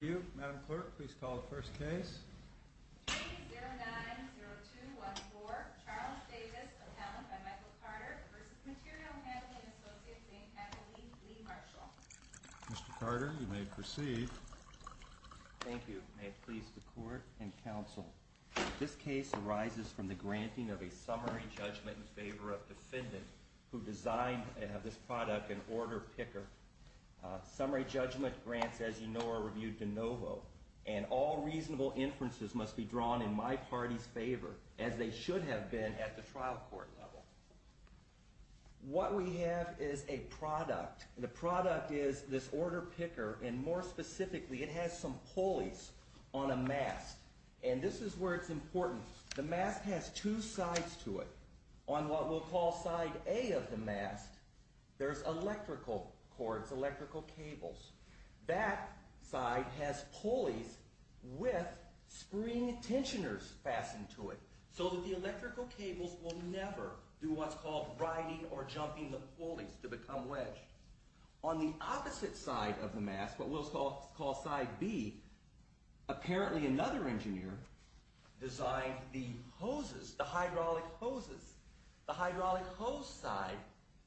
Thank you. Madam Clerk, please call the first case. Case 090214, Charles Davis, Appellant by Michael Carter v. Material Handling Associates, Inc., Adelaide Lee Marshall. Mr. Carter, you may proceed. Thank you. May it please the Court and Counsel. This case arises from the granting of a summary judgment in favor of defendant who designed this product in order picker. Summary judgment grants, as you know, are reviewed de novo, and all reasonable inferences must be drawn in my party's favor, as they should have been at the trial court level. What we have is a product. The product is this order picker, and more specifically, it has some pulleys on a mast. And this is where it's important. The mast has two sides to it. On what we'll call side A of the mast, there's electrical cords, electrical cables. That side has pulleys with spring tensioners fastened to it, so that the electrical cables will never do what's called riding or jumping the pulleys to become wedged. On the opposite side of the mast, what we'll call side B, apparently another engineer designed the hoses, the hydraulic hoses. The hydraulic hose side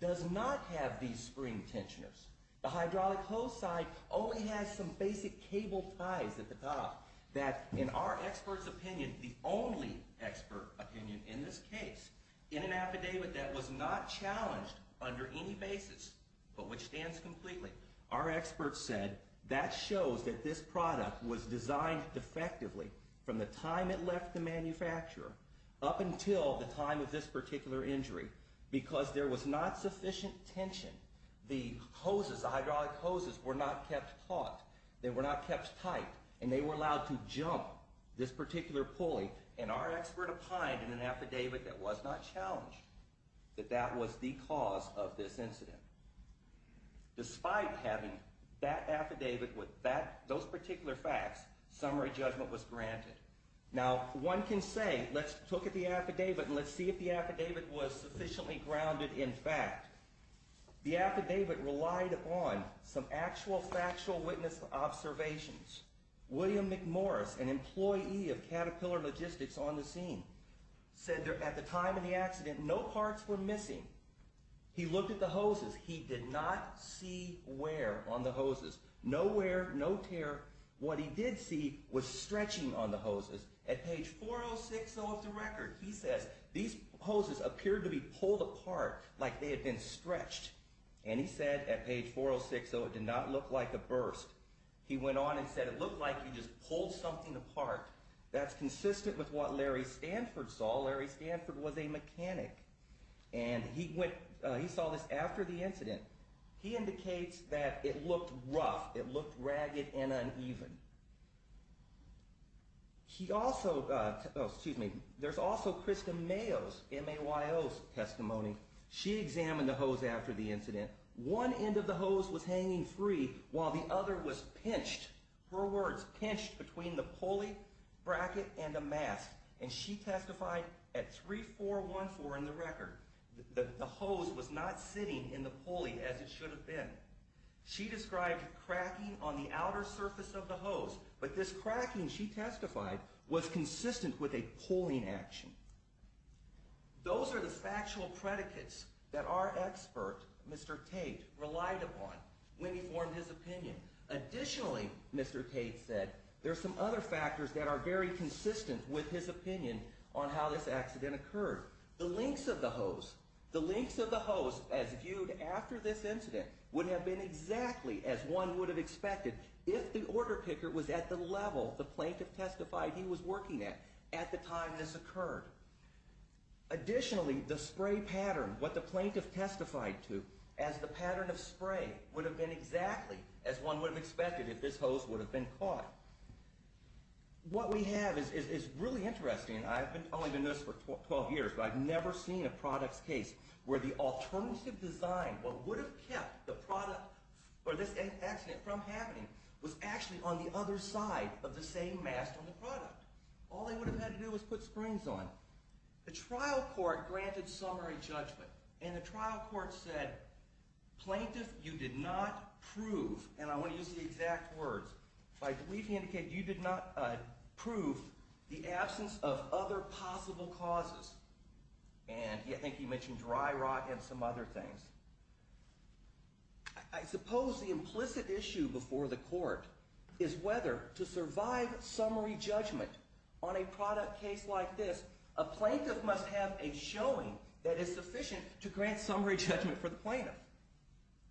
does not have these spring tensioners. The hydraulic hose side only has some basic cable ties at the top. That, in our expert's opinion, the only expert opinion in this case, in an affidavit that was not challenged under any basis, but which stands completely, our expert said that shows that this product was designed effectively from the time it left the manufacturer up until the time of this particular injury because there was not sufficient tension. The hoses, the hydraulic hoses, were not kept taut. They were not kept tight, and they were allowed to jump this particular pulley. And our expert opined in an affidavit that was not challenged that that was the cause of this incident. Despite having that affidavit with those particular facts, summary judgment was granted. Now, one can say, let's look at the affidavit and let's see if the affidavit was sufficiently grounded in fact. The affidavit relied upon some actual factual witness observations. William McMorris, an employee of Caterpillar Logistics on the scene, said that at the time of the accident, no parts were missing. He looked at the hoses. He did not see wear on the hoses. No wear, no tear. What he did see was stretching on the hoses. At page 4060 of the record, he says, these hoses appeared to be pulled apart like they had been stretched. And he said at page 4060, it did not look like a burst. He went on and said it looked like he just pulled something apart. That's consistent with what Larry Stanford saw. Larry Stanford was a mechanic, and he saw this after the incident. He indicates that it looked rough. It looked ragged and uneven. There's also Krista Mayo's, M-A-Y-O's testimony. She examined the hose after the incident. One end of the hose was hanging free while the other was pinched. Her words, pinched between the pulley bracket and the mast. And she testified at 3414 in the record that the hose was not sitting in the pulley as it should have been. She described cracking on the outer surface of the hose. But this cracking, she testified, was consistent with a pulling action. Those are the factual predicates that our expert, Mr. Tate, relied upon when he formed his opinion. Additionally, Mr. Tate said, there are some other factors that are very consistent with his opinion on how this accident occurred. The lengths of the hose. The lengths of the hose, as viewed after this incident, would have been exactly as one would have expected if the order picker was at the level the plaintiff testified he was working at at the time this occurred. Additionally, the spray pattern, what the plaintiff testified to as the pattern of spray, would have been exactly as one would have expected if this hose would have been caught. What we have is really interesting. I've only been doing this for 12 years, but I've never seen a product's case where the alternative design, what would have kept the product or this accident from happening, was actually on the other side of the same mast on the product. All they would have had to do was put screens on it. The trial court granted summary judgment, and the trial court said, plaintiff, you did not prove, and I want to use the exact words, but I believe he indicated you did not prove the absence of other possible causes. And I think he mentioned dry rot and some other things. I suppose the implicit issue before the court is whether to survive summary judgment on a product case like this, a plaintiff must have a showing that is sufficient to grant summary judgment for the plaintiff.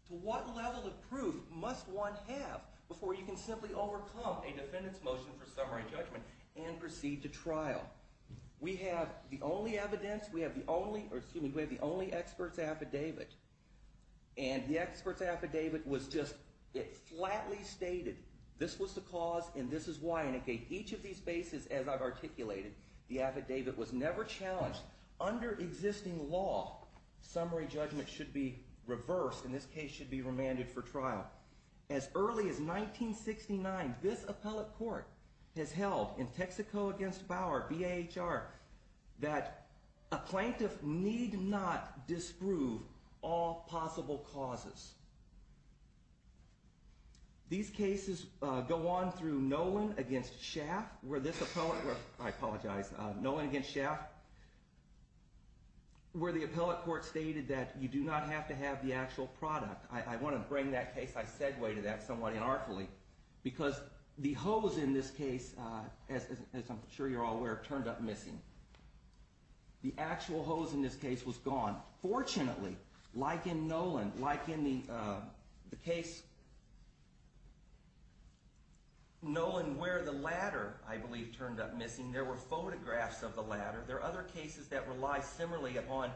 To what level of proof must one have before you can simply overcome a defendant's motion for summary judgment and proceed to trial? We have the only evidence, we have the only expert's affidavit, and the expert's affidavit was just, it flatly stated this was the cause and this is why, and it gave each of these bases, as I've articulated, the affidavit was never challenged. Under existing law, summary judgment should be reversed, in this case should be remanded for trial. As early as 1969, this appellate court has held in Texaco against Bauer, B-A-H-R, that a plaintiff need not disprove all possible causes. These cases go on through Nolan against Schaaf, where this appellate, I apologize, Nolan against Schaaf, where the appellate court stated that you do not have to have the actual product. I want to bring that case, I segue to that somewhat inartfully, because the hose in this case, as I'm sure you're all aware, turned up missing. The actual hose in this case was gone. Fortunately, like in Nolan, like in the case, Nolan where the ladder, I believe, turned up missing, there were photographs of the ladder, there are other cases that rely similarly upon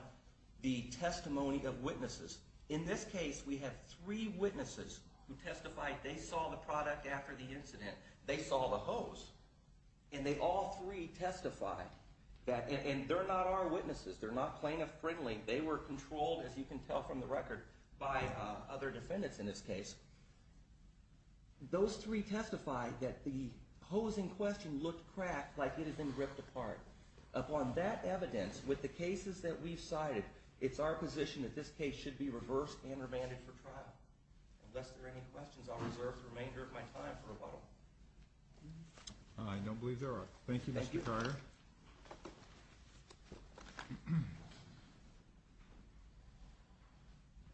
the testimony of witnesses. In this case, we have three witnesses who testified they saw the product after the incident, they saw the hose, and they all three testified, and they're not our witnesses, they're not plaintiff friendly, they were controlled, as you can tell from the record, by other defendants in this case. Those three testified that the hose in question looked cracked like it had been ripped apart. Upon that evidence, with the cases that we've cited, it's our position that this case should be reversed and remanded for trial. Unless there are any questions, I'll reserve the remainder of my time for rebuttal. I don't believe there are. Thank you, Mr. Carter. Thank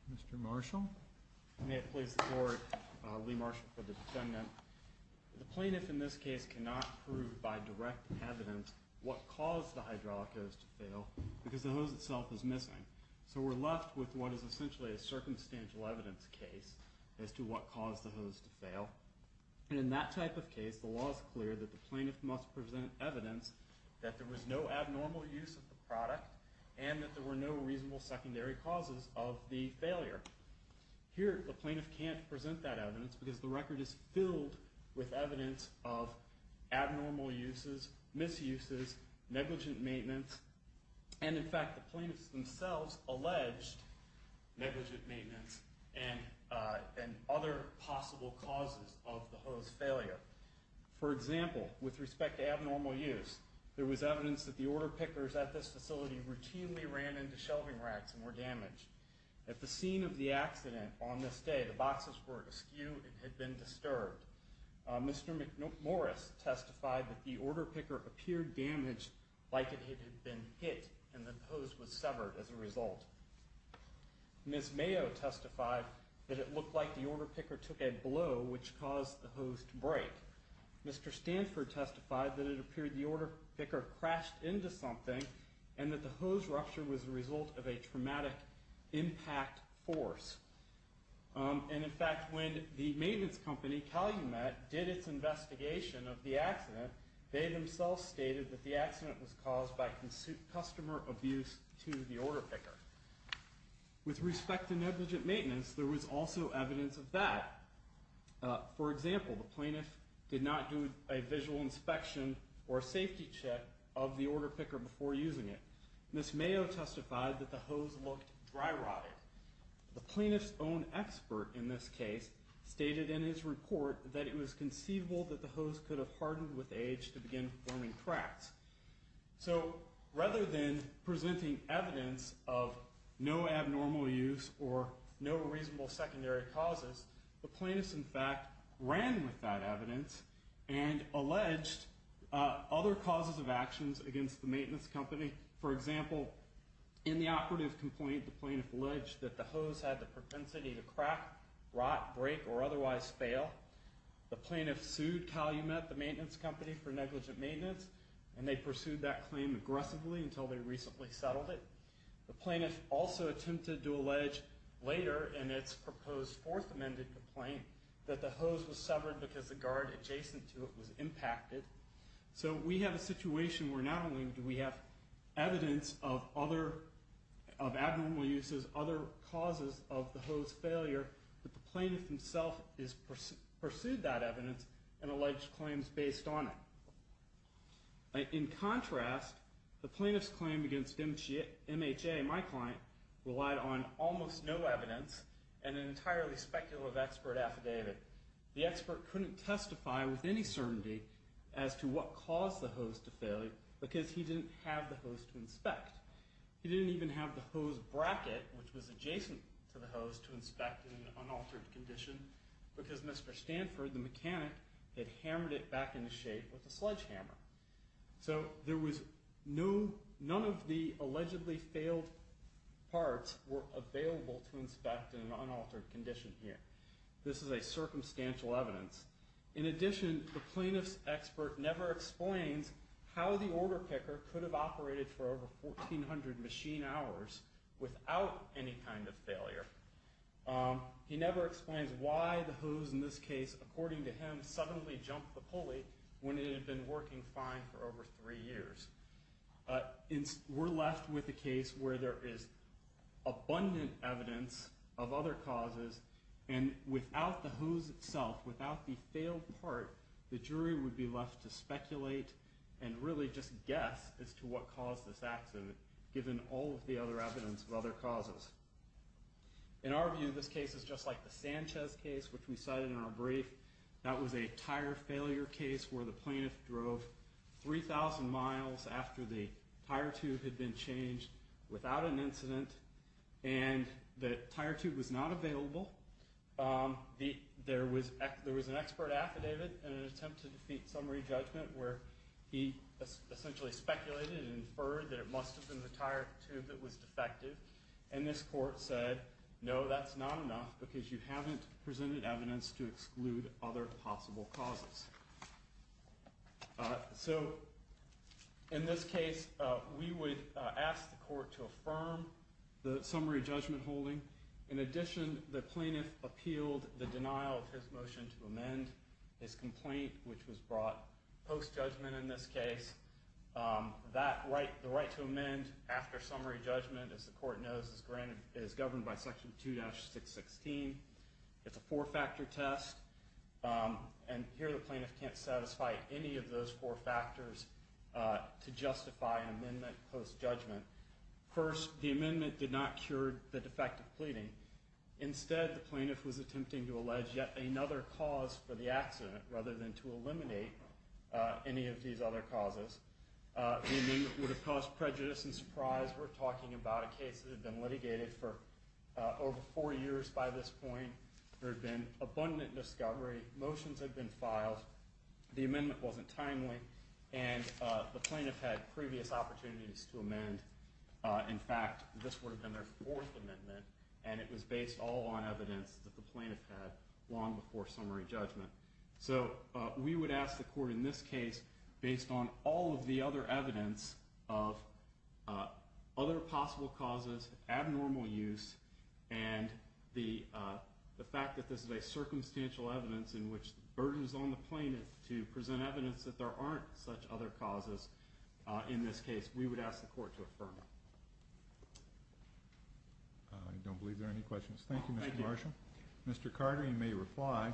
you. Mr. Marshall. May it please the court, Lee Marshall for the defendant. The plaintiff in this case cannot prove by direct evidence what caused the hydraulic hose to fail because the hose itself is missing. So we're left with what is essentially a circumstantial evidence case as to what caused the hose to fail. And in that type of case, the law is clear that the plaintiff must present evidence that there was no abnormal use of the product and that there were no reasonable secondary causes of the failure. Here, the plaintiff can't present that evidence because the record is filled with evidence of abnormal uses, misuses, negligent maintenance, and in fact, the plaintiffs themselves alleged negligent maintenance and other possible causes of the hose failure. For example, with respect to abnormal use, there was evidence that the order pickers at this facility routinely ran into shelving racks and were damaged. At the scene of the accident on this day, the boxes were askew and had been disturbed. Mr. Morris testified that the order picker appeared damaged like it had been hit and that the hose was severed as a result. Ms. Mayo testified that it looked like the order picker took a blow which caused the hose to break. Mr. Stanford testified that it appeared the order picker crashed into something and that the hose rupture was a result of a traumatic impact force. And in fact, when the maintenance company, Calumet, did its investigation of the accident, they themselves stated that the accident was caused by customer abuse to the order picker. With respect to negligent maintenance, there was also evidence of that. For example, the plaintiff did not do a visual inspection or a safety check of the order picker before using it. Ms. Mayo testified that the hose looked dry rotted. The plaintiff's own expert in this case stated in his report that it was conceivable that the hose could have hardened with age to begin forming cracks. So rather than presenting evidence of no abnormal use or no reasonable secondary causes, the plaintiff, in fact, ran with that evidence and alleged other causes of actions against the maintenance company. For example, in the operative complaint, the plaintiff alleged that the hose had the propensity to crack, rot, break, or otherwise fail. The plaintiff sued Calumet, the maintenance company, for negligent maintenance, and they pursued that claim aggressively until they recently settled it. The plaintiff also attempted to allege later in its proposed fourth amended complaint that the hose was severed because the guard adjacent to it was impacted. So we have a situation where not only do we have evidence of abnormal uses, other causes of the hose failure, but the plaintiff himself has pursued that evidence and alleged claims based on it. In contrast, the plaintiff's claim against MHA, my client, relied on almost no evidence and an entirely speculative expert affidavit. The expert couldn't testify with any certainty as to what caused the hose to fail because he didn't have the hose to inspect. He didn't even have the hose bracket, which was adjacent to the hose, to inspect in an unaltered condition because Mr. Stanford, the mechanic, had hammered it back into shape with a sledgehammer. So none of the allegedly failed parts were available to inspect in an unaltered condition here. This is a circumstantial evidence. In addition, the plaintiff's expert never explains how the order picker could have operated for over 1,400 machine hours without any kind of failure. He never explains why the hose in this case, according to him, suddenly jumped the pulley when it had been working fine for over three years. We're left with a case where there is abundant evidence of other causes, and without the hose itself, without the failed part, the jury would be left to speculate and really just guess as to what caused this accident, given all of the other evidence of other causes. In our view, this case is just like the Sanchez case, which we cited in our brief. That was a tire failure case where the plaintiff drove 3,000 miles after the tire tube had been changed without an incident, and the tire tube was not available. There was an expert affidavit in an attempt to defeat summary judgment where he essentially speculated and inferred that it must have been the tire tube that was defective, and this court said, no, that's not enough because you haven't presented evidence to exclude other possible causes. In this case, we would ask the court to affirm the summary judgment holding. In addition, the plaintiff appealed the denial of his motion to amend his complaint, which was brought post-judgment in this case. The right to amend after summary judgment, as the court knows, is governed by Section 2-616. It's a four-factor test, and here the plaintiff can't satisfy any of those four factors to justify an amendment post-judgment. First, the amendment did not cure the defective pleading. Instead, the plaintiff was attempting to allege yet another cause for the accident rather than to eliminate any of these other causes. The amendment would have caused prejudice and surprise. As we're talking about a case that had been litigated for over four years by this point, there had been abundant discovery, motions had been filed, the amendment wasn't timely, and the plaintiff had previous opportunities to amend. In fact, this would have been their fourth amendment, and it was based all on evidence that the plaintiff had long before summary judgment. So we would ask the court in this case, based on all of the other evidence of other possible causes, abnormal use, and the fact that this is a circumstantial evidence in which the burden is on the plaintiff to present evidence that there aren't such other causes in this case, we would ask the court to affirm it. I don't believe there are any questions. Thank you, Mr. Marshall. Mr. Carter, you may reply.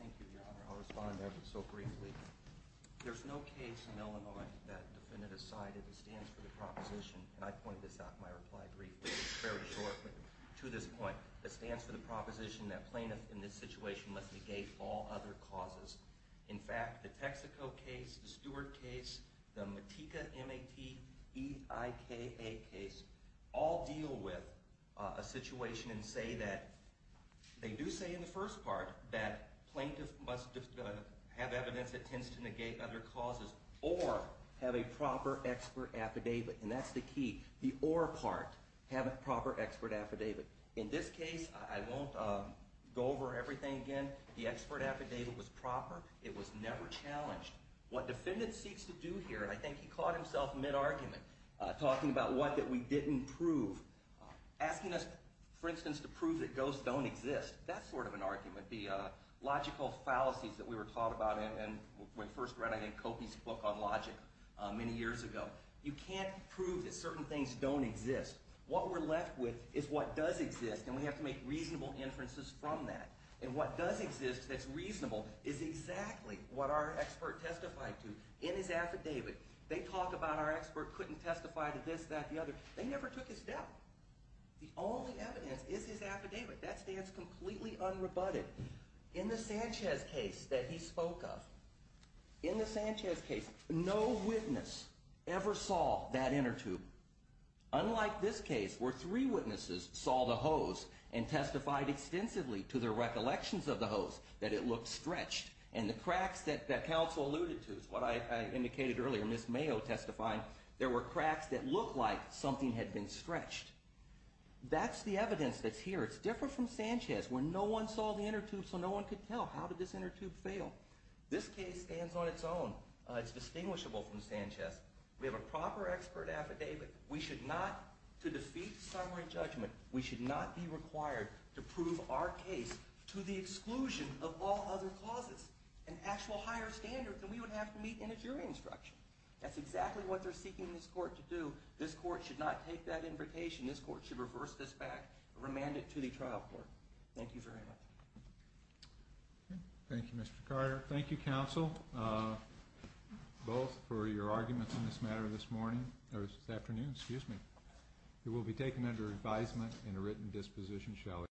Thank you, Your Honor. I'll respond ever so briefly. There's no case in Illinois that the defendant has cited that stands for the proposition, and I pointed this out in my reply briefly. It's very short, but to this point, that stands for the proposition that plaintiff in this situation must negate all other causes. In fact, the Texaco case, the Stewart case, the Matika, M-A-T-E-I-K-A case, all deal with a situation and say that they do say in the first part that plaintiff must have evidence that tends to negate other causes or have a proper expert affidavit, and that's the key. The or part, have a proper expert affidavit. In this case, I won't go over everything again. The expert affidavit was proper. It was never challenged. What defendant seeks to do here, and I think he caught himself mid-argument, talking about what that we didn't prove. Asking us, for instance, to prove that ghosts don't exist, that's sort of an argument, the logical fallacies that we were taught about when we first read, I think, Copey's book on logic many years ago. You can't prove that certain things don't exist. What we're left with is what does exist, and we have to make reasonable inferences from that. And what does exist that's reasonable is exactly what our expert testified to in his affidavit. They talk about our expert couldn't testify to this, that, the other. They never took his death. The only evidence is his affidavit. That stands completely unrebutted. In the Sanchez case that he spoke of, in the Sanchez case, no witness ever saw that inner tube. Unlike this case where three witnesses saw the hose and testified extensively to their recollections of the hose that it looked stretched, and the cracks that counsel alluded to is what I indicated earlier, Ms. Mayo testifying, there were cracks that looked like something had been stretched. That's the evidence that's here. It's different from Sanchez where no one saw the inner tube so no one could tell how did this inner tube fail. This case stands on its own. It's distinguishable from Sanchez. We have a proper expert affidavit. We should not, to defeat summary judgment, we should not be required to prove our case to the exclusion of all other causes, an actual higher standard than we would have to meet in a jury instruction. That's exactly what they're seeking this court to do. This court should not take that invitation. This court should reverse this back, remand it to the trial court. Thank you very much. Thank you, Mr. Carter. Thank you, counsel, both for your arguments in this matter this morning, or this afternoon, excuse me. It will be taken under advisement and a written disposition, shall it be so.